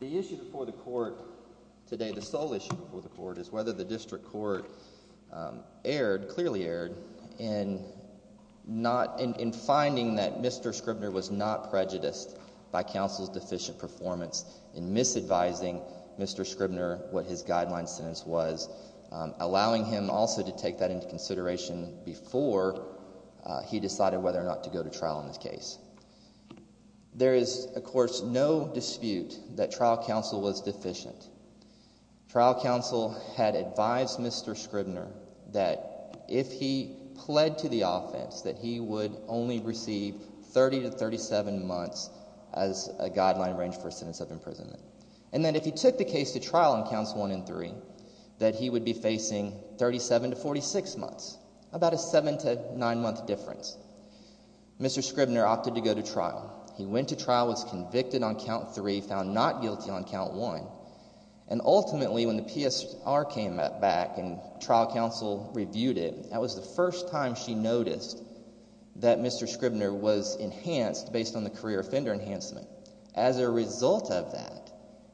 The issue before the Court today, the sole issue before the Court, is whether the District in finding that Mr. Scribner was not prejudiced by counsel's deficient performance in misadvising Mr. Scribner what his guideline sentence was, allowing him also to take that into consideration before he decided whether or not to go to trial in this case. There is, of course, no dispute that trial counsel was deficient. Trial counsel had advised Mr. Scribner that if he pled to the offense that he would only receive 30 to 37 months as a guideline range for a sentence of imprisonment. And then if he took the case to trial on counts 1 and 3, that he would be facing 37 to 46 months, about a 7 to 9 month difference. Mr. Scribner opted to go to trial. He went to trial, was convicted on count 3, found not guilty on count 1. And ultimately when the PSR came back and trial counsel reviewed it, that was the first time she noticed that Mr. Scribner was enhanced based on the career offender enhancement. As a result of that,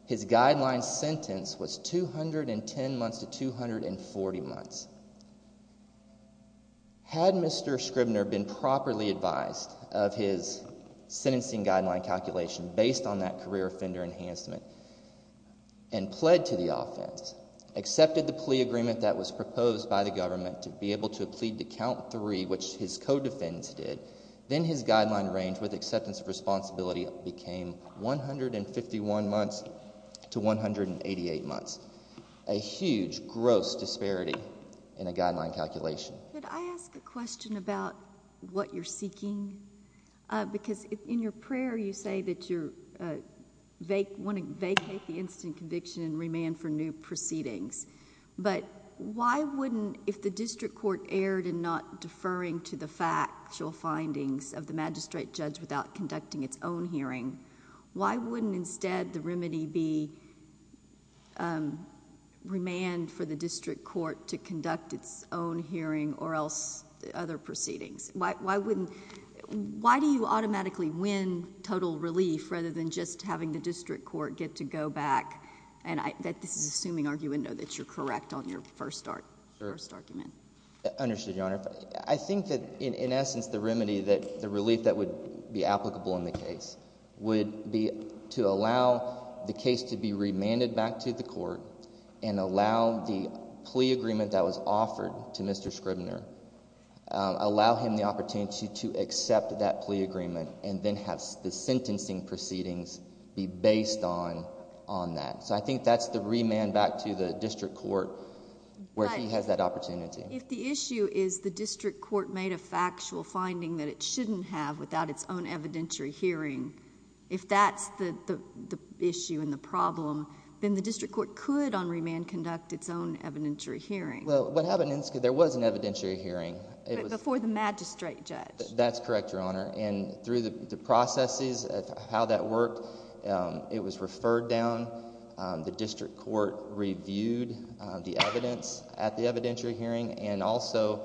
his guideline sentence was 210 months to 240 months. Had Mr. Scribner been properly advised of his sentencing guideline calculation based on that career offender enhancement and pled to the offense, accepted the plea agreement that was proposed by the government to be able to plead to count 3, which his co-defendants did, then his guideline range with acceptance of responsibility became 151 months to 188 months. A huge, gross disparity in a guideline calculation. Could I ask a question about what you're seeking? Because in your prayer you say that you want to vacate the instant conviction and remand for new proceedings. But why wouldn't, if the district court erred in not deferring to the factual findings of the magistrate judge without conducting its own hearing, why wouldn't instead the remedy be remand for the district court to conduct its own hearing or else other proceedings? Why wouldn't, why do you automatically win total relief rather than just having the district court get to go back? And I, this is an assuming argument, I know that you're correct on your first argument. Sure. Understood, Your Honor. I think that in essence the remedy that the relief that would be applicable in the case would be to allow the case to be remanded back to the court and allow the plea agreement that was offered to Mr. Scribner, allow him the opportunity to accept that plea agreement and then have the sentencing proceedings be based on that. So I think that's the remand back to the district court where he has that opportunity. If the issue is the district court made a factual finding that it shouldn't have without its own evidentiary hearing, if that's the issue and the problem, then the district court could on remand conduct its own evidentiary hearing. Well, what happens is there was an evidentiary hearing. Before the magistrate judge. That's correct, Your Honor. And through the processes of how that worked, it was referred down, the district court reviewed the evidence at the evidentiary hearing and also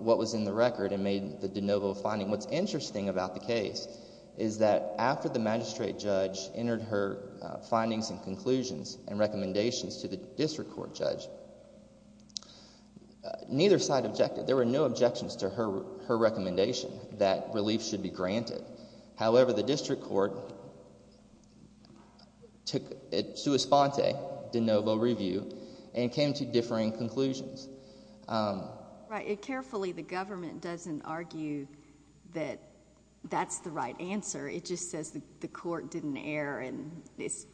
what was in the record and made the de novo finding. And what's interesting about the case is that after the magistrate judge entered her findings and conclusions and recommendations to the district court judge, neither side objected. There were no objections to her recommendation that relief should be granted. However, the district court took it sua sponte, de novo review, and came to differing conclusions. Right. Carefully, the government doesn't argue that that's the right answer. It just says the court didn't err and is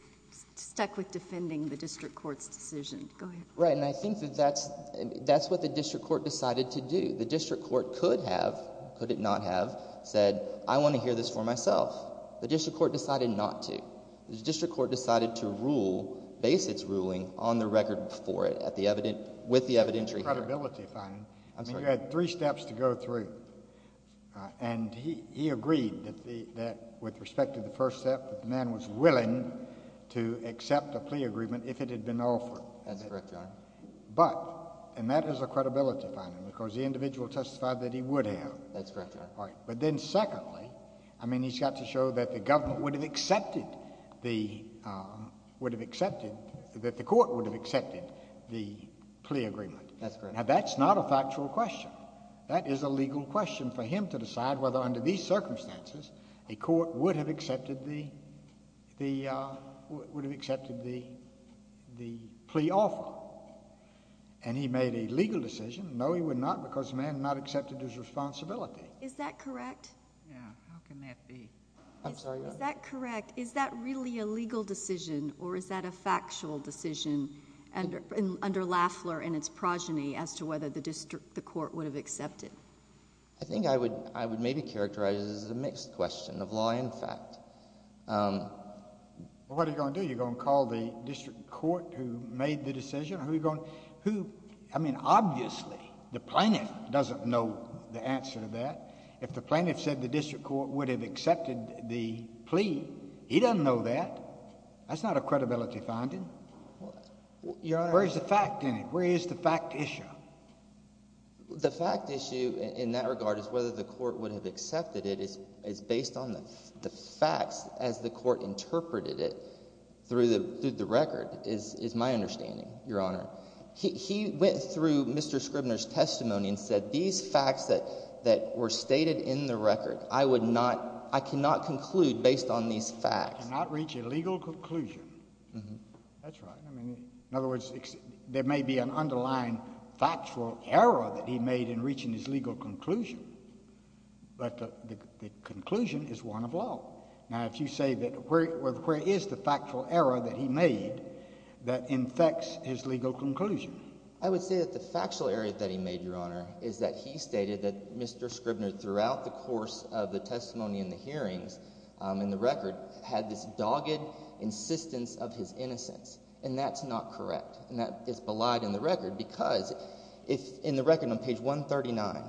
stuck with defending the district court's decision. Go ahead. Right, and I think that that's what the district court decided to do. The district court could have, could it not have, said I want to hear this for myself. The district court decided not to. The district court decided to rule, base its ruling on the record before it, with the evidentiary hearing. That's a credibility finding. I mean, you had three steps to go through. And he agreed that with respect to the first step, the man was willing to accept a plea agreement if it had been offered. That's correct, Your Honor. But, and that is a credibility finding because the individual testified that he would have. That's correct, Your Honor. But then secondly, I mean, he's got to show that the government would have accepted the, would have accepted, that the court would have accepted the plea agreement. That's correct. Now, that's not a factual question. That is a legal question for him to decide whether under these circumstances a court would have accepted the, would have accepted the plea offer. And he made a legal decision. No, he would not because the man had not accepted his responsibility. Is that correct? Yeah. How can that be? I'm sorry, Your Honor? Is that correct? Is that really a legal decision or is that a factual decision under, under Lafler and its progeny as to whether the district, the court would have accepted? I think I would, I would maybe characterize it as a mixed question of law and fact. Well, what are you going to do? Are you going to call the district court who made the decision? Are you going to, who, I mean, obviously the plaintiff doesn't know the answer to that. If the plaintiff said the district court would have accepted the plea, he doesn't know that. That's not a credibility finding. Well, Your Honor. Where is the fact in it? Where is the fact issue? The fact issue in that regard is whether the court would have accepted it is based on the facts as the court interpreted it through the record is my understanding, Your Honor. He went through Mr. Scribner's testimony and said these facts that were stated in the record, I would not, I cannot conclude based on these facts. Cannot reach a legal conclusion. That's right. In other words, there may be an underlying factual error that he made in reaching his legal conclusion, but the conclusion is one of law. Now, if you say that, where is the factual error that he made that infects his legal conclusion? I would say that the factual error that he made, Your Honor, is that he stated that Mr. Scribner throughout the course of the testimony and the hearings in the record had this dogged insistence of his innocence. And that's not correct, and that is belied in the record because in the record on page 139,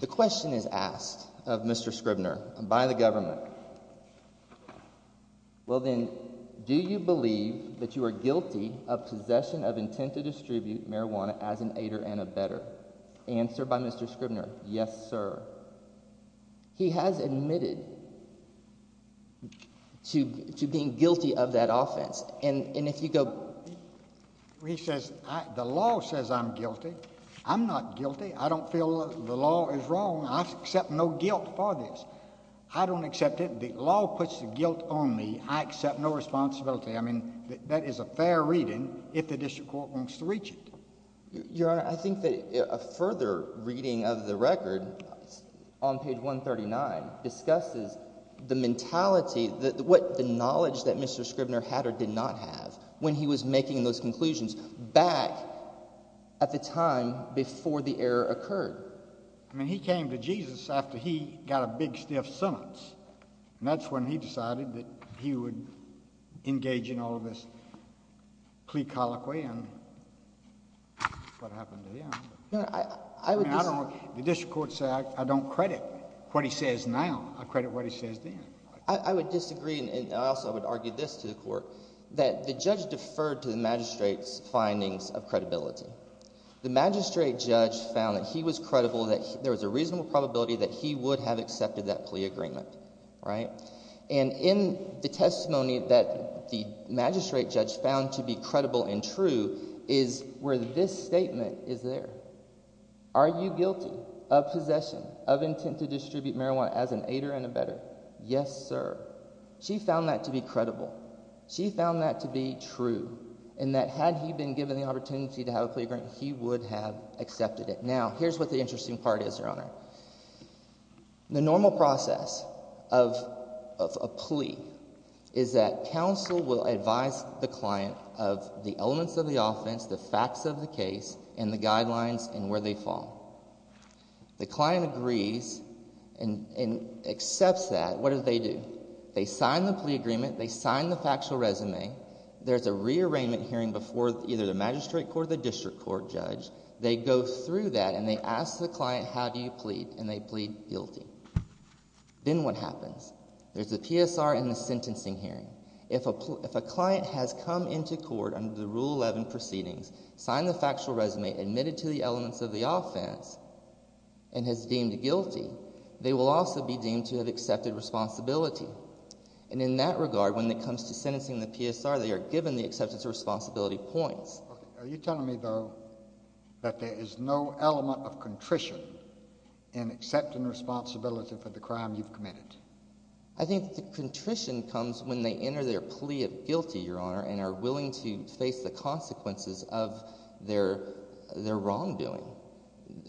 the question is asked of Mr. Scribner by the government. Well, then, do you believe that you are guilty of possession of intent to distribute marijuana as an aider and a better? Answered by Mr. Scribner, yes, sir. He has admitted to being guilty of that offense, and if you go. He says the law says I'm guilty. I'm not guilty. I don't feel the law is wrong. I accept no guilt for this. I don't accept it. The law puts the guilt on me. I accept no responsibility. I mean, that is a fair reading if the district court wants to reach it. Your Honor, I think that a further reading of the record on page 139 discusses the mentality, the knowledge that Mr. Scribner had or did not have when he was making those conclusions back at the time before the error occurred. I mean he came to Jesus after he got a big, stiff sentence, and that's when he decided that he would engage in all of this plea colloquy and what happened to him. I would disagree. The district court said I don't credit what he says now. I credit what he says then. I would disagree, and I also would argue this to the court, that the judge deferred to the magistrate's findings of credibility. The magistrate judge found that he was credible, that there was a reasonable probability that he would have accepted that plea agreement. And in the testimony that the magistrate judge found to be credible and true is where this statement is there. Are you guilty of possession of intent to distribute marijuana as an aider and abetter? Yes, sir. She found that to be credible. She found that to be true and that had he been given the opportunity to have a plea agreement, he would have accepted it. Now, here's what the interesting part is, Your Honor. The normal process of a plea is that counsel will advise the client of the elements of the offense, the facts of the case, and the guidelines and where they fall. The client agrees and accepts that. What do they do? They sign the plea agreement. They sign the factual resume. There's a rearrangement hearing before either the magistrate court or the district court judge. They go through that, and they ask the client, how do you plead? And they plead guilty. Then what happens? There's a PSR and a sentencing hearing. If a client has come into court under the Rule 11 proceedings, signed the factual resume, admitted to the elements of the offense, and has deemed guilty, they will also be deemed to have accepted responsibility. And in that regard, when it comes to sentencing the PSR, they are given the acceptance of responsibility points. Okay. Are you telling me, though, that there is no element of contrition in accepting responsibility for the crime you've committed? I think the contrition comes when they enter their plea of guilty, Your Honor, and are willing to face the consequences of their wrongdoing.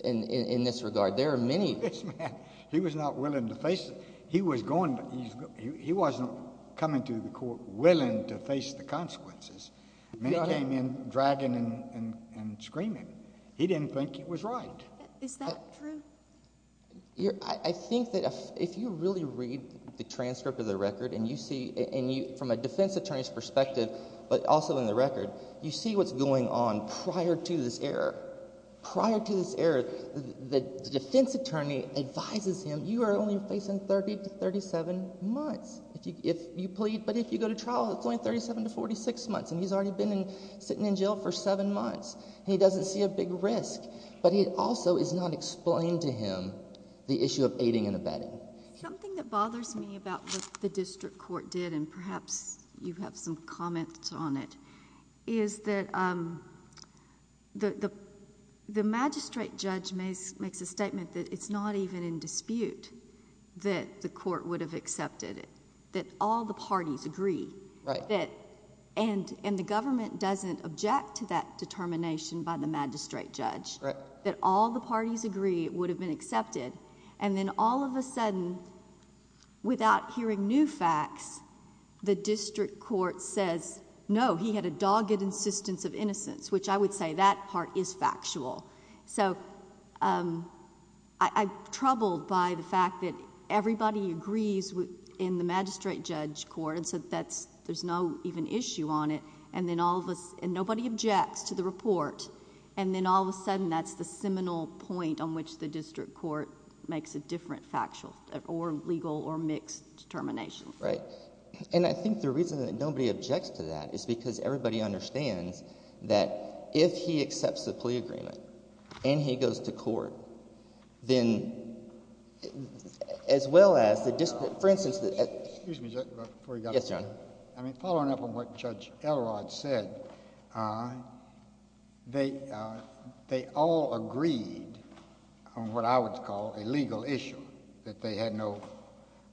In this regard, there are many— This man, he was not willing to face it. He was going, but he wasn't coming to the court willing to face the consequences. Many came in dragging and screaming. He didn't think he was right. Is that true? I think that if you really read the transcript of the record and you see, from a defense attorney's perspective but also in the record, you see what's going on prior to this error. Prior to this error, the defense attorney advises him, you are only facing 30 to 37 months if you plead. But if you go to trial, it's only 37 to 46 months, and he's already been sitting in jail for seven months, and he doesn't see a big risk. But it also is not explained to him, the issue of aiding and abetting. Something that bothers me about what the district court did, and perhaps you have some comments on it, is that the magistrate judge makes a statement that it's not even in dispute that the court would have accepted it, that all the parties agree. Right. And the government doesn't object to that determination by the magistrate judge. Right. And then all of a sudden, without hearing new facts, the district court says, no, he had a dogged insistence of innocence, which I would say that part is factual. So I'm troubled by the fact that everybody agrees in the magistrate judge court, and so there's no even issue on it, and nobody objects to the report. And then all of a sudden, that's the seminal point on which the district court makes a different factual or legal or mixed determination. Right. And I think the reason that nobody objects to that is because everybody understands that if he accepts the plea agreement and he goes to court, then as well as the – for instance – Excuse me, Judge, before you go. Yes, Your Honor. I mean, following up on what Judge Elrod said, they all agreed on what I would call a legal issue, that they had no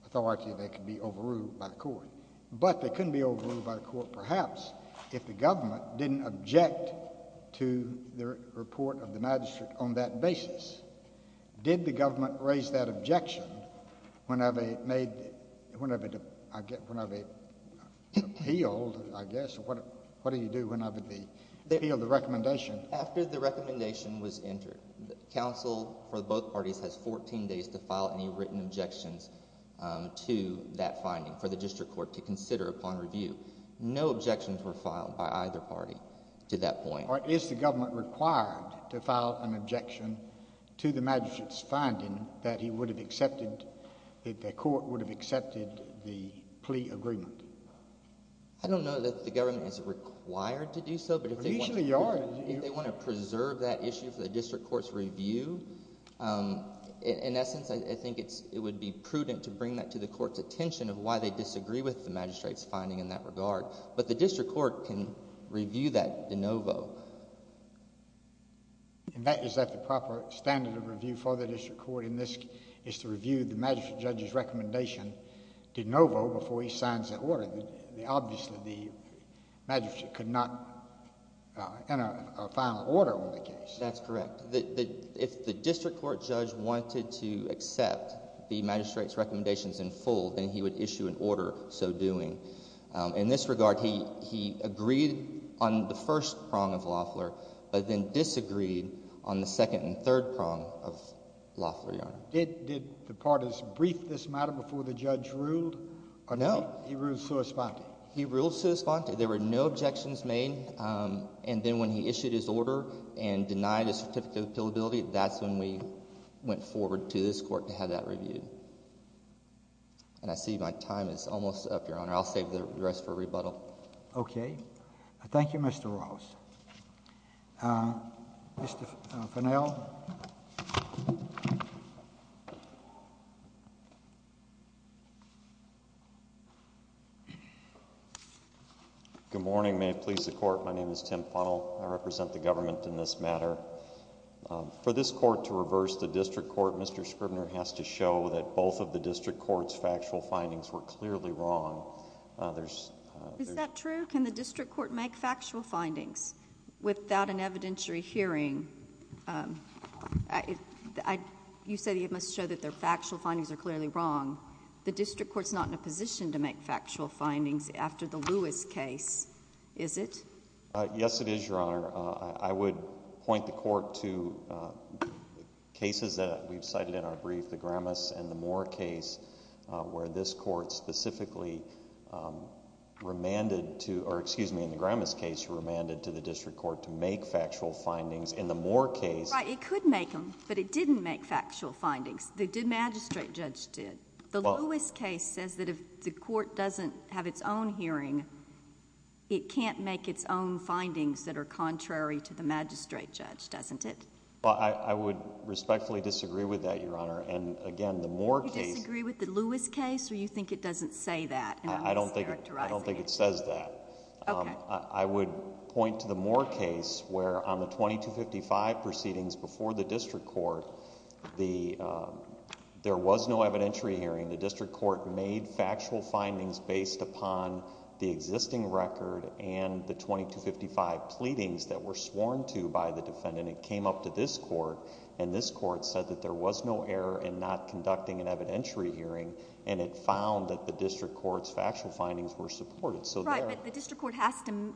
authority that could be overruled by the court. But they couldn't be overruled by the court perhaps if the government didn't object to the report of the magistrate on that basis. Did the government raise that objection whenever it made – whenever it appealed, I guess. What do you do whenever they appeal the recommendation? After the recommendation was entered, counsel for both parties has 14 days to file any written objections to that finding for the district court to consider upon review. No objections were filed by either party to that point. Is the government required to file an objection to the magistrate's finding that he would have accepted – that the court would have accepted the plea agreement? I don't know that the government is required to do so, but if they want to preserve that issue for the district court's review, in essence, I think it would be prudent to bring that to the court's attention of why they disagree with the magistrate's finding in that regard. But the district court can review that de novo. And that is at the proper standard of review for the district court, and this is to review the magistrate judge's recommendation de novo before he signs the order. Obviously, the magistrate could not enter a final order on the case. That's correct. If the district court judge wanted to accept the magistrate's recommendations in full, then he would issue an order so doing. In this regard, he agreed on the first prong of Loeffler but then disagreed on the second and third prong of Loeffler, Your Honor. Did the parties brief this matter before the judge ruled or no? No. He ruled sua sponte. He ruled sua sponte. There were no objections made, and then when he issued his order and denied a certificate of appealability, that's when we went forward to this court to have that reviewed. And I see my time is almost up, Your Honor. I'll save the rest for rebuttal. Okay. Thank you, Mr. Ross. Mr. Fennell. Good morning. May it please the Court. My name is Tim Fennell. I represent the government in this matter. For this court to reverse the district court, Mr. Scribner has to show that both of the district court's factual findings were clearly wrong. Is that true? Can the district court make factual findings without an evidentiary hearing? You say it must show that their factual findings are clearly wrong. The district court's not in a position to make factual findings after the Lewis case, is it? Yes, it is, Your Honor. I would point the court to cases that we've cited in our brief, the Gramas and the Moore case, where this court specifically remanded to—or excuse me, in the Gramas case, remanded to the district court to make factual findings. In the Moore case— Right. It could make them, but it didn't make factual findings. The magistrate judge did. The Lewis case says that if the court doesn't have its own hearing, it can't make its own findings that are contrary to the magistrate judge, doesn't it? Well, I would respectfully disagree with that, Your Honor. And again, the Moore case— You disagree with the Lewis case or you think it doesn't say that? I don't think it says that. Okay. I would point to the Moore case where on the 2255 proceedings before the district court, there was no evidentiary hearing. The district court made factual findings based upon the existing record and the 2255 pleadings that were sworn to by the defendant. It came up to this court, and this court said that there was no error in not conducting an evidentiary hearing, and it found that the district court's factual findings were supported. Right, but the district court has to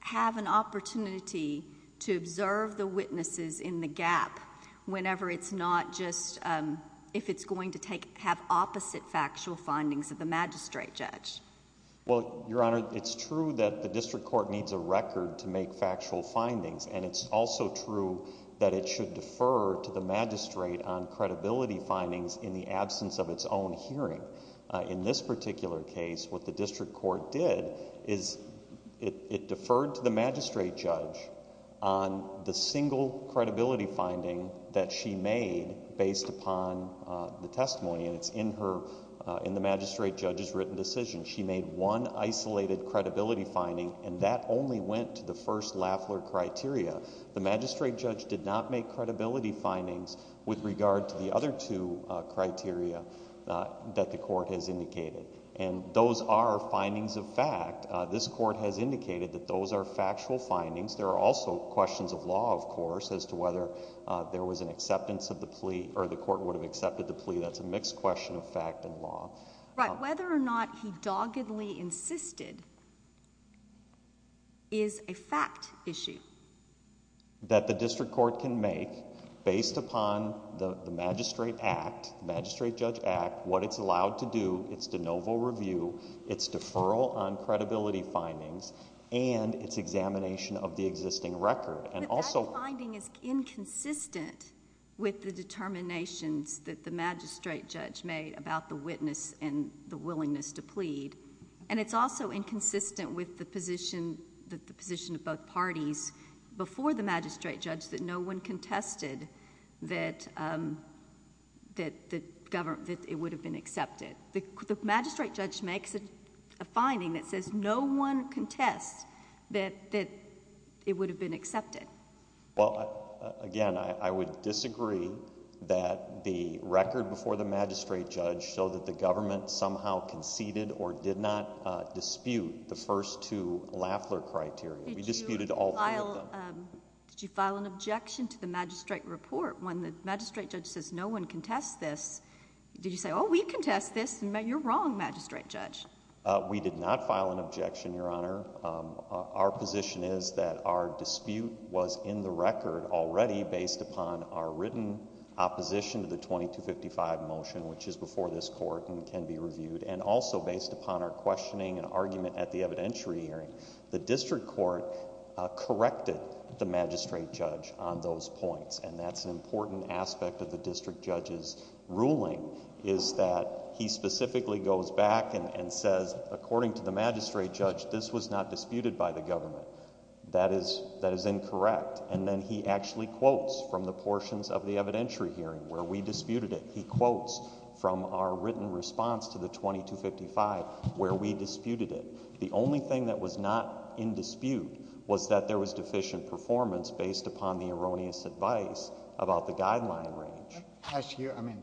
have an opportunity to observe the witnesses in the gap whenever it's not just—if it's going to have opposite factual findings of the magistrate judge. Well, Your Honor, it's true that the district court needs a record to make factual findings, and it's also true that it should defer to the magistrate on credibility findings in the absence of its own hearing. In this particular case, what the district court did is it deferred to the magistrate judge on the single credibility finding that she made based upon the testimony, and it's in the magistrate judge's written decision. She made one isolated credibility finding, and that only went to the first Lafler criteria. The magistrate judge did not make credibility findings with regard to the other two criteria that the court has indicated, and those are findings of fact. This court has indicated that those are factual findings. There are also questions of law, of course, as to whether there was an acceptance of the plea or the court would have accepted the plea. Right. Whether or not he doggedly insisted is a fact issue. That the district court can make based upon the magistrate act, the magistrate judge act, what it's allowed to do, its de novo review, its deferral on credibility findings, and its examination of the existing record. But that finding is inconsistent with the determinations that the magistrate judge made about the witness and the willingness to plead, and it's also inconsistent with the position of both parties before the magistrate judge that no one contested that it would have been accepted. The magistrate judge makes a finding that says no one contests that it would have been accepted. Well, again, I would disagree that the record before the magistrate judge showed that the government somehow conceded or did not dispute the first two Lafler criteria. We disputed all three of them. Did you file an objection to the magistrate report when the magistrate judge says no one contests this? Did you say, oh, we contest this. You're wrong, magistrate judge. We did not file an objection, Your Honor. Our position is that our dispute was in the record already based upon our written opposition to the 2255 motion, which is before this court and can be reviewed, and also based upon our questioning and argument at the evidentiary hearing. The district court corrected the magistrate judge on those points, and that's an important aspect of the district judge's ruling is that he specifically goes back and says, according to the magistrate judge, this was not disputed by the government. That is incorrect. And then he actually quotes from the portions of the evidentiary hearing where we disputed it. He quotes from our written response to the 2255 where we disputed it. The only thing that was not in dispute was that there was deficient performance based upon the erroneous advice about the guideline range. I ask you, I mean,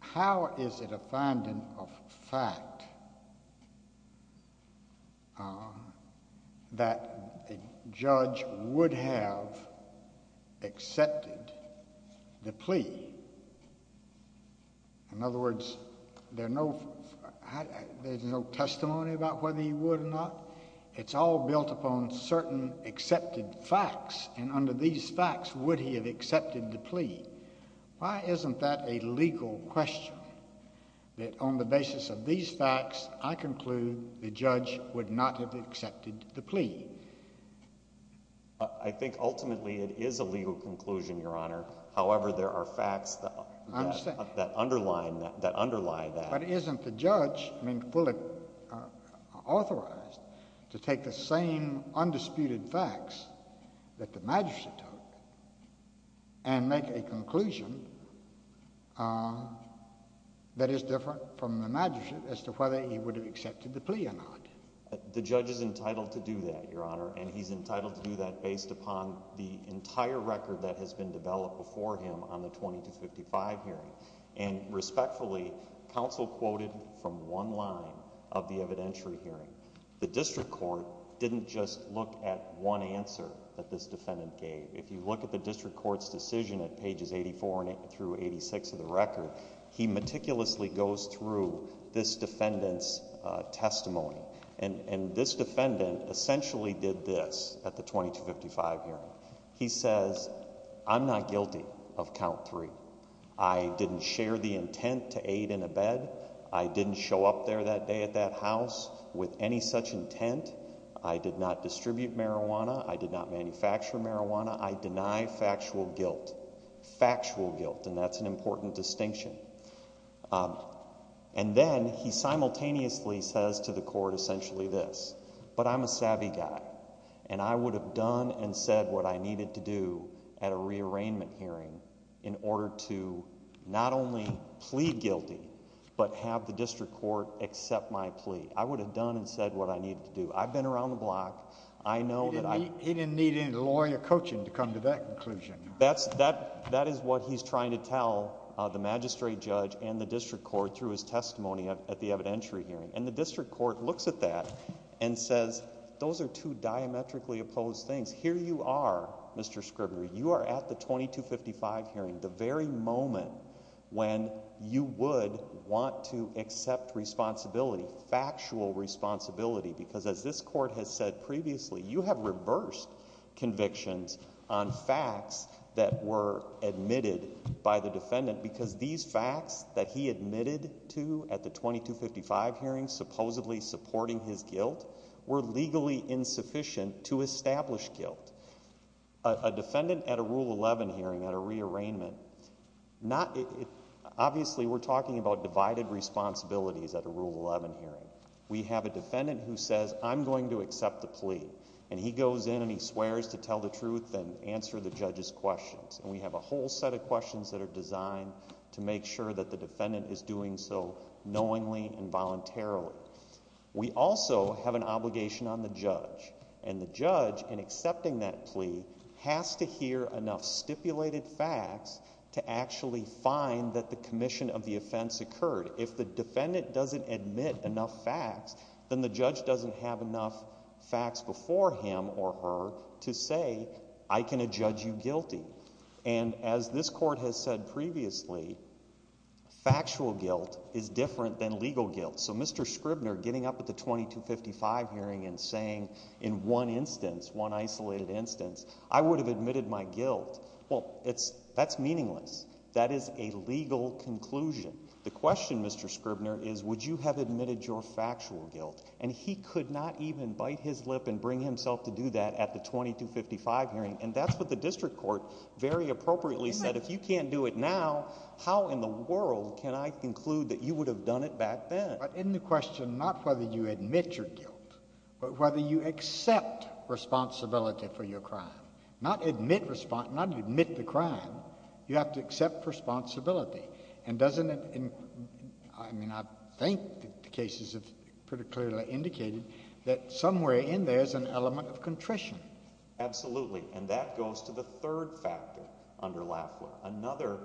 how is it a finding of fact that a judge would have accepted the plea? In other words, there's no testimony about whether he would or not. It's all built upon certain accepted facts, and under these facts, would he have accepted the plea? Why isn't that a legal question, that on the basis of these facts, I conclude the judge would not have accepted the plea? I think ultimately it is a legal conclusion, Your Honor. However, there are facts that underlie that. But isn't the judge fully authorized to take the same undisputed facts that the magistrate took and make a conclusion that is different from the magistrate as to whether he would have accepted the plea or not? The judge is entitled to do that, Your Honor, and he's entitled to do that based upon the entire record that has been developed before him on the 2255 hearing. And respectfully, counsel quoted from one line of the evidentiary hearing. The district court didn't just look at one answer that this defendant gave. If you look at the district court's decision at pages 84 through 86 of the record, he meticulously goes through this defendant's testimony. And this defendant essentially did this at the 2255 hearing. He says, I'm not guilty of count three. I didn't share the intent to aid in a bed. I didn't show up there that day at that house with any such intent. I did not distribute marijuana. I did not manufacture marijuana. I deny factual guilt. And that's an important distinction. And then he simultaneously says to the court essentially this. But I'm a savvy guy, and I would have done and said what I needed to do at a rearrangement hearing in order to not only plea guilty but have the district court accept my plea. I would have done and said what I needed to do. I've been around the block. I know that I'm— He didn't need any lawyer coaching to come to that conclusion. That is what he's trying to tell the magistrate judge and the district court through his testimony at the evidentiary hearing. And the district court looks at that and says those are two diametrically opposed things. Here you are, Mr. Scribner. You are at the 2255 hearing, the very moment when you would want to accept responsibility, factual responsibility, because as this court has said previously, you have reversed convictions on facts that were admitted by the defendant because these facts that he admitted to at the 2255 hearing supposedly supporting his guilt were legally insufficient to establish guilt. A defendant at a Rule 11 hearing, at a rearrangement, obviously we're talking about divided responsibilities at a Rule 11 hearing. We have a defendant who says I'm going to accept the plea, and he goes in and he swears to tell the truth and answer the judge's questions. And we have a whole set of questions that are designed to make sure that the defendant is doing so knowingly and voluntarily. We also have an obligation on the judge, and the judge in accepting that plea has to hear enough stipulated facts to actually find that the commission of the offense occurred. If the defendant doesn't admit enough facts, then the judge doesn't have enough facts before him or her to say I can adjudge you guilty. And as this court has said previously, factual guilt is different than legal guilt. So Mr. Scribner getting up at the 2255 hearing and saying in one instance, one isolated instance, I would have admitted my guilt. Well, that's meaningless. That is a legal conclusion. The question, Mr. Scribner, is would you have admitted your factual guilt? And he could not even bite his lip and bring himself to do that at the 2255 hearing. And that's what the district court very appropriately said. If you can't do it now, how in the world can I conclude that you would have done it back then? But in the question, not whether you admit your guilt, but whether you accept responsibility for your crime. Not admit the crime. You have to accept responsibility. And doesn't it – I mean I think the cases have pretty clearly indicated that somewhere in there is an element of contrition. Absolutely. And that goes to the third factor under LAFLA. Another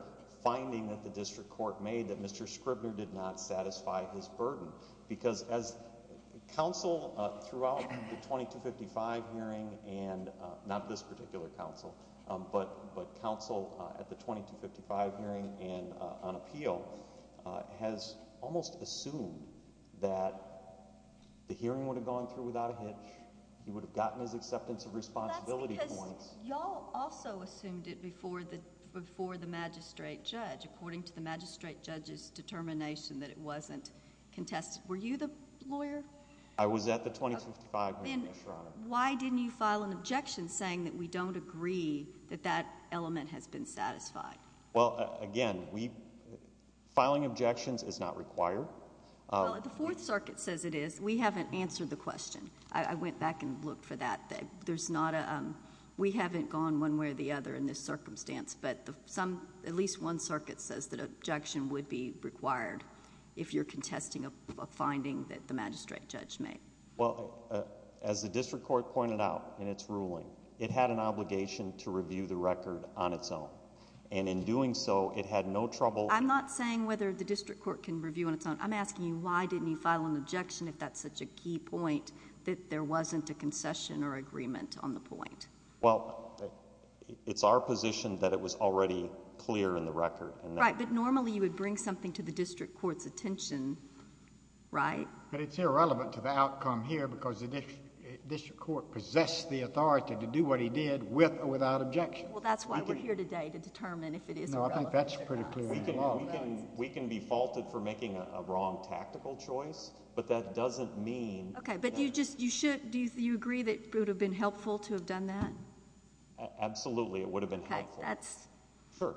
finding that the district court made that Mr. Scribner did not satisfy his burden. Because as counsel throughout the 2255 hearing, and not this particular counsel, but counsel at the 2255 hearing and on appeal, has almost assumed that the hearing would have gone through without a hitch. He would have gotten his acceptance of responsibility points. That's because y'all also assumed it before the magistrate judge. According to the magistrate judge's determination that it wasn't contested. Were you the lawyer? I was at the 2255 hearing, yes, Your Honor. Then why didn't you file an objection saying that we don't agree that that element has been satisfied? Well, again, filing objections is not required. We haven't answered the question. I went back and looked for that. There's not a – we haven't gone one way or the other in this circumstance, but at least one circuit says that objection would be required if you're contesting a finding that the magistrate judge made. Well, as the district court pointed out in its ruling, it had an obligation to review the record on its own. And in doing so, it had no trouble – I'm not saying whether the district court can review on its own. I'm asking you why didn't you file an objection if that's such a key point that there wasn't a concession or agreement on the point? Well, it's our position that it was already clear in the record. Right, but normally you would bring something to the district court's attention, right? But it's irrelevant to the outcome here because the district court possessed the authority to do what he did with or without objection. Well, that's why we're here today to determine if it is irrelevant. No, I think that's pretty clear. We can be faulted for making a wrong tactical choice, but that doesn't mean – Okay, but do you agree that it would have been helpful to have done that? Absolutely, it would have been helpful. Okay, that's – Sure.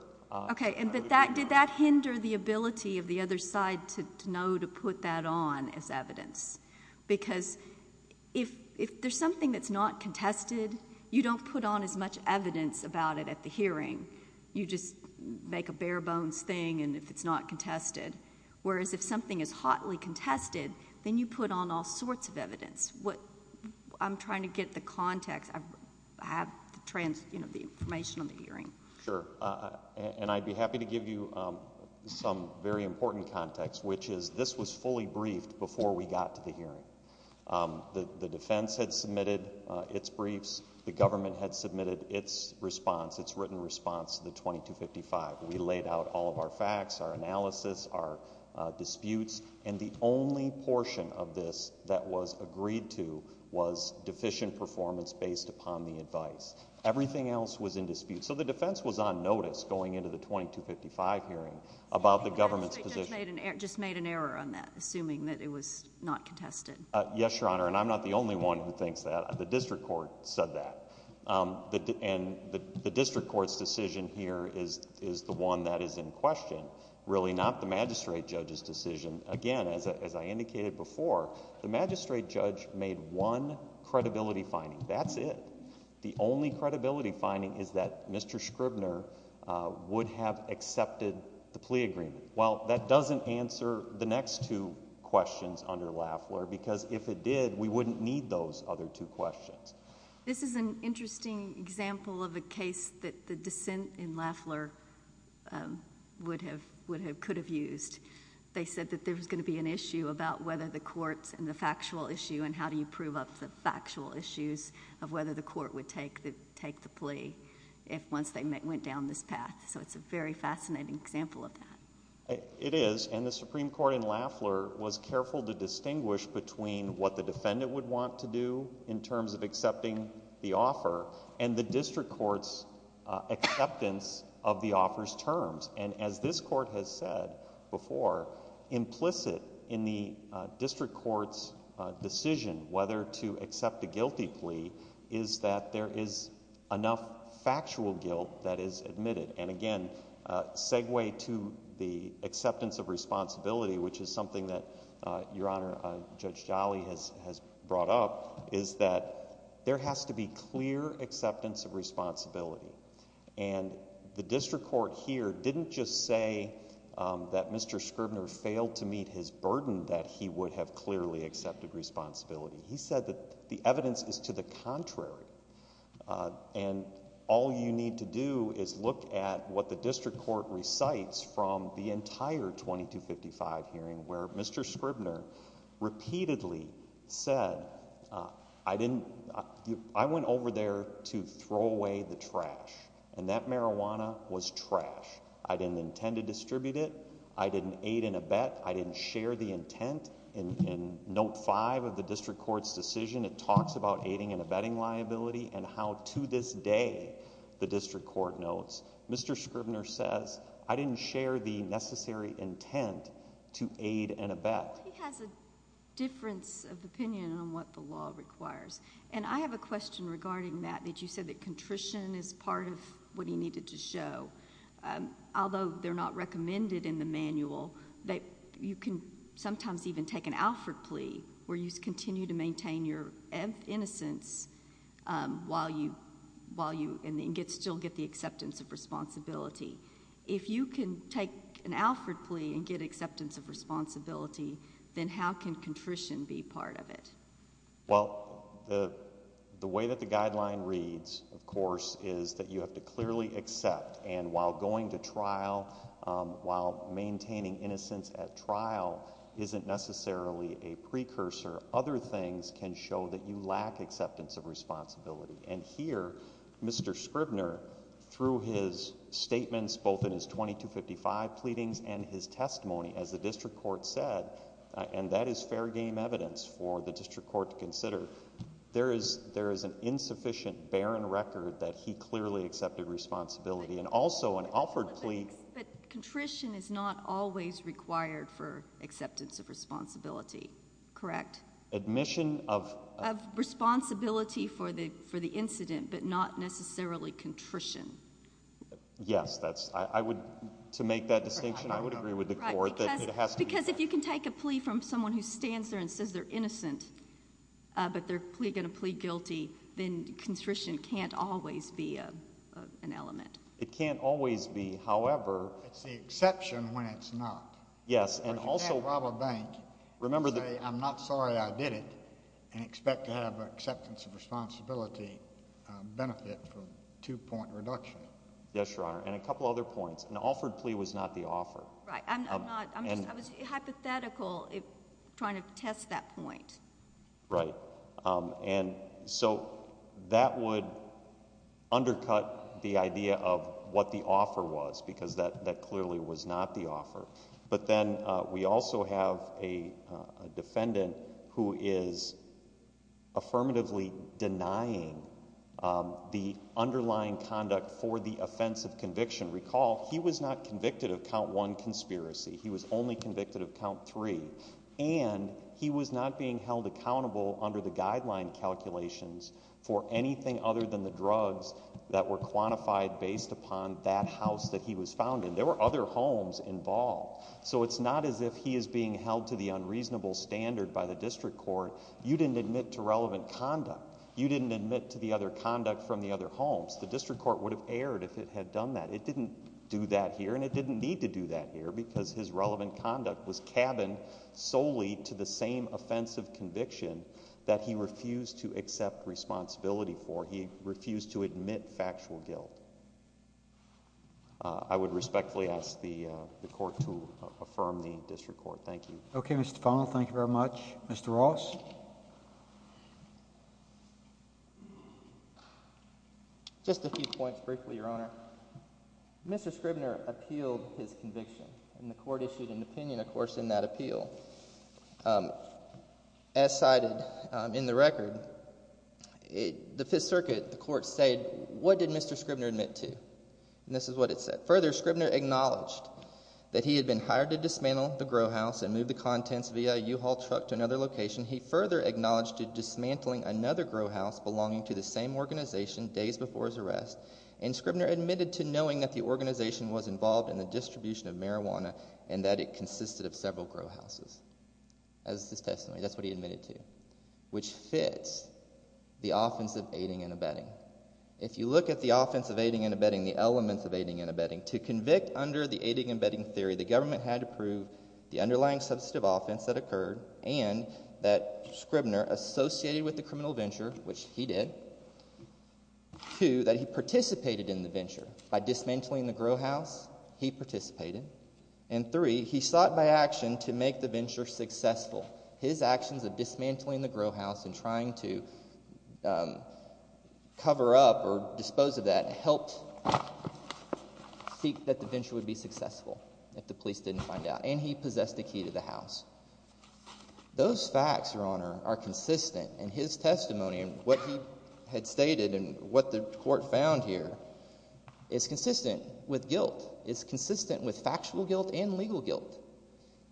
Okay, but did that hinder the ability of the other side to know to put that on as evidence? Because if there's something that's not contested, you don't put on as much evidence about it at the hearing. You just make a bare-bones thing if it's not contested. Whereas if something is hotly contested, then you put on all sorts of evidence. I'm trying to get the context. I have the information on the hearing. Sure, and I'd be happy to give you some very important context, which is this was fully briefed before we got to the hearing. The defense had submitted its briefs. The government had submitted its response, its written response to the 2255. We laid out all of our facts, our analysis, our disputes, and the only portion of this that was agreed to was deficient performance based upon the advice. Everything else was in dispute. So the defense was on notice going into the 2255 hearing about the government's position. You just made an error on that, assuming that it was not contested. Yes, Your Honor, and I'm not the only one who thinks that. The district court said that. And the district court's decision here is the one that is in question, really not the magistrate judge's decision. Again, as I indicated before, the magistrate judge made one credibility finding. That's it. The only credibility finding is that Mr. Scribner would have accepted the plea agreement. Well, that doesn't answer the next two questions under Lafleur, because if it did, we wouldn't need those other two questions. This is an interesting example of a case that the dissent in Lafleur could have used. They said that there was going to be an issue about whether the courts and the factual issue and how do you prove up the factual issues of whether the court would take the plea once they went down this path. So it's a very fascinating example of that. It is, and the Supreme Court in Lafleur was careful to distinguish between what the defendant would want to do in terms of accepting the offer and the district court's acceptance of the offer's terms. And as this court has said before, implicit in the district court's decision whether to accept the guilty plea is that there is enough factual guilt that is admitted. And, again, segue to the acceptance of responsibility, which is something that Your Honor, Judge Jolly has brought up, is that there has to be clear acceptance of responsibility. And the district court here didn't just say that Mr. Scribner failed to meet his burden, that he would have clearly accepted responsibility. He said that the evidence is to the contrary. And all you need to do is look at what the district court recites from the entire 2255 hearing where Mr. Scribner repeatedly said, I went over there to throw away the trash, and that marijuana was trash. I didn't intend to distribute it. I didn't aid in a bet. I didn't share the intent. In Note 5 of the district court's decision, it talks about aiding and abetting liability and how to this day the district court notes, Mr. Scribner says, I didn't share the necessary intent to aid and abet. He has a difference of opinion on what the law requires. And I have a question regarding that, that you said that contrition is part of what he needed to show. Although they're not recommended in the manual, you can sometimes even take an Alford plea where you continue to maintain your innocence while you still get the acceptance of responsibility. If you can take an Alford plea and get acceptance of responsibility, then how can contrition be part of it? Well, the way that the guideline reads, of course, is that you have to clearly accept. And while going to trial, while maintaining innocence at trial isn't necessarily a precursor, other things can show that you lack acceptance of responsibility. And here, Mr. Scribner, through his statements, both in his 2255 pleadings and his testimony, as the district court said, and that is fair game evidence for the district court to consider, there is an insufficient, barren record that he clearly accepted responsibility. And also an Alford plea— But contrition is not always required for acceptance of responsibility, correct? Admission of— Of responsibility for the incident, but not necessarily contrition. Yes, that's—I would—to make that distinction, I would agree with the court that it has to be— Because if you can take a plea from someone who stands there and says they're innocent, but they're going to plead guilty, then contrition can't always be an element. It can't always be. However— It's the exception when it's not. Yes, and also— Or you can't rob a bank and say, I'm not sorry I did it, and expect to have an acceptance of responsibility benefit from two-point reduction. Yes, Your Honor, and a couple other points. An Alford plea was not the offer. Right. I'm not—I'm just—I was hypothetical trying to test that point. Right. And so that would undercut the idea of what the offer was, because that clearly was not the offer. But then we also have a defendant who is affirmatively denying the underlying conduct for the offense of conviction. Recall, he was not convicted of count one conspiracy. He was only convicted of count three. And he was not being held accountable under the guideline calculations for anything other than the drugs that were quantified based upon that house that he was found in. There were other homes involved. So it's not as if he is being held to the unreasonable standard by the district court. You didn't admit to relevant conduct. You didn't admit to the other conduct from the other homes. The district court would have erred if it had done that. It didn't do that here, and it didn't need to do that here, because his relevant conduct was cabined solely to the same offense of conviction that he refused to accept responsibility for. He refused to admit factual guilt. I would respectfully ask the court to affirm the district court. Thank you. Okay, Mr. Fano. Thank you very much. Mr. Ross? Just a few points briefly, Your Honor. Mr. Scribner appealed his conviction, and the court issued an opinion, of course, in that appeal. As cited in the record, the Fifth Circuit, the court said, what did Mr. Scribner admit to? And this is what it said. Further, Scribner acknowledged that he had been hired to dismantle the grow house and move the contents via a U-Haul truck to another location. He further acknowledged to dismantling another grow house belonging to the same organization days before his arrest, and Scribner admitted to knowing that the organization was involved in the distribution of marijuana and that it consisted of several grow houses. That's his testimony. That's what he admitted to, which fits the offense of aiding and abetting. If you look at the offense of aiding and abetting, the elements of aiding and abetting, to convict under the aiding and abetting theory, the government had to prove the underlying substantive offense that occurred and that Scribner associated with the criminal venture, which he did. Two, that he participated in the venture. By dismantling the grow house, he participated. And three, he sought by action to make the venture successful. His actions of dismantling the grow house and trying to cover up or dispose of that helped seek that the venture would be successful, if the police didn't find out. And he possessed the key to the house. Those facts, Your Honor, are consistent in his testimony and what he had stated and what the court found here is consistent with guilt. It's consistent with factual guilt and legal guilt.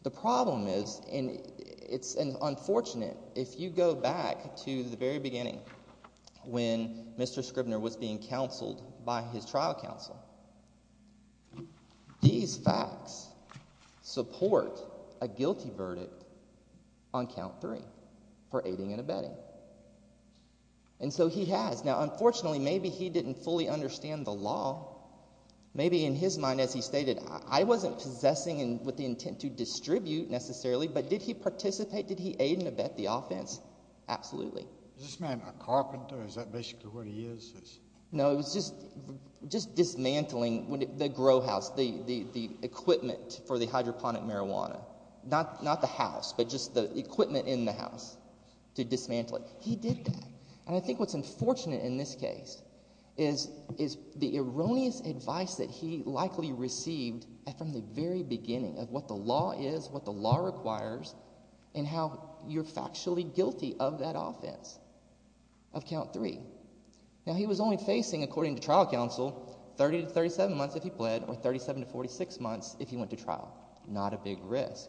The problem is, and it's unfortunate, if you go back to the very beginning when Mr. Scribner was being counseled by his trial counsel, these facts support a guilty verdict on count three for aiding and abetting. And so he has. Now, unfortunately, maybe he didn't fully understand the law. Maybe in his mind, as he stated, I wasn't possessing with the intent to distribute necessarily, but did he participate? Did he aid and abet the offense? Absolutely. Is this man a carpenter? Is that basically what he is? No, it was just dismantling the grow house, the equipment for the hydroponic marijuana. Not the house, but just the equipment in the house to dismantle it. He did that, and I think what's unfortunate in this case is the erroneous advice that he likely received from the very beginning of what the law is, what the law requires, and how you're factually guilty of that offense of count three. Now, he was only facing, according to trial counsel, 30 to 37 months if he pled or 37 to 46 months if he went to trial. Not a big risk.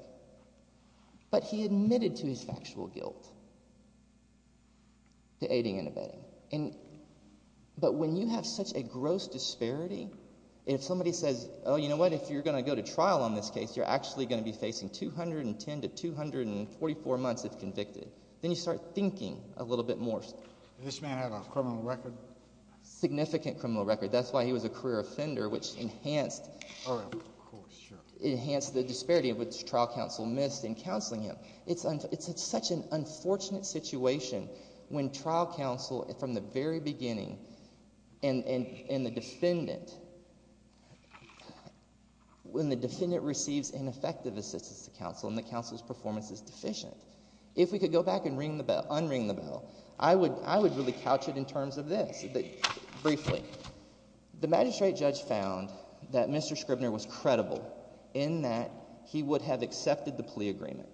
But he admitted to his factual guilt to aiding and abetting. But when you have such a gross disparity, if somebody says, oh, you know what, if you're going to go to trial on this case, you're actually going to be facing 210 to 244 months if convicted, then you start thinking a little bit more. This man had a criminal record? Significant criminal record. That's why he was a career offender, which enhanced the disparity which trial counsel missed in counseling him. It's such an unfortunate situation when trial counsel, from the very beginning, and the defendant, when the defendant receives ineffective assistance to counsel and the counsel's performance is deficient. If we could go back and unring the bell, I would really couch it in terms of this briefly. The magistrate judge found that Mr. Scribner was credible in that he would have accepted the plea agreement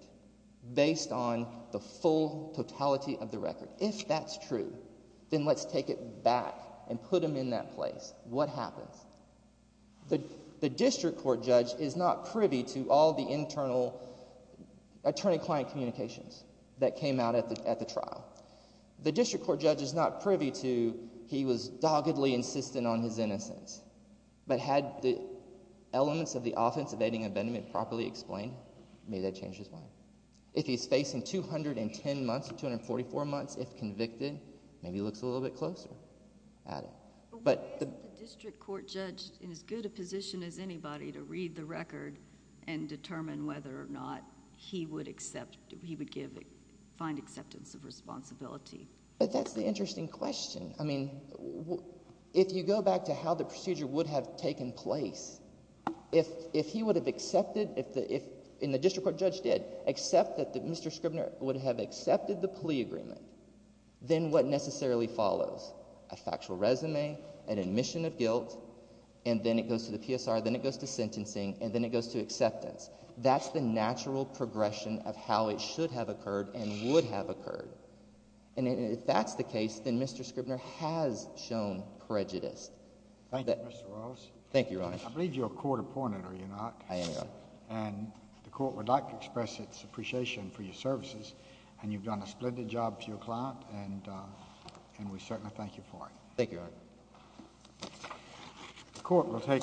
based on the full totality of the record. If that's true, then let's take it back and put him in that place. What happens? The district court judge is not privy to all the internal attorney-client communications that came out at the trial. The district court judge is not privy to he was doggedly insistent on his innocence. But had the elements of the offense of aiding and abetting been properly explained, maybe that would change his mind. If he's facing 210 months to 244 months if convicted, maybe he looks a little bit closer at it. But why isn't the district court judge in as good a position as anybody to read the record and determine whether or not he would find acceptance of responsibility? But that's the interesting question. I mean, if you go back to how the procedure would have taken place, if he would have accepted, and the district court judge did, accept that Mr. Scribner would have accepted the plea agreement, then what necessarily follows? A factual resume, an admission of guilt, and then it goes to the PSR, then it goes to sentencing, and then it goes to acceptance. That's the natural progression of how it should have occurred and would have occurred. And if that's the case, then Mr. Scribner has shown prejudice. Thank you, Mr. Rawls. Thank you, Your Honor. I believe you're a court opponent, are you not? I am, Your Honor. And the court would like to express its appreciation for your services, and you've done a splendid job for your client, and we certainly thank you for it. Thank you, Your Honor.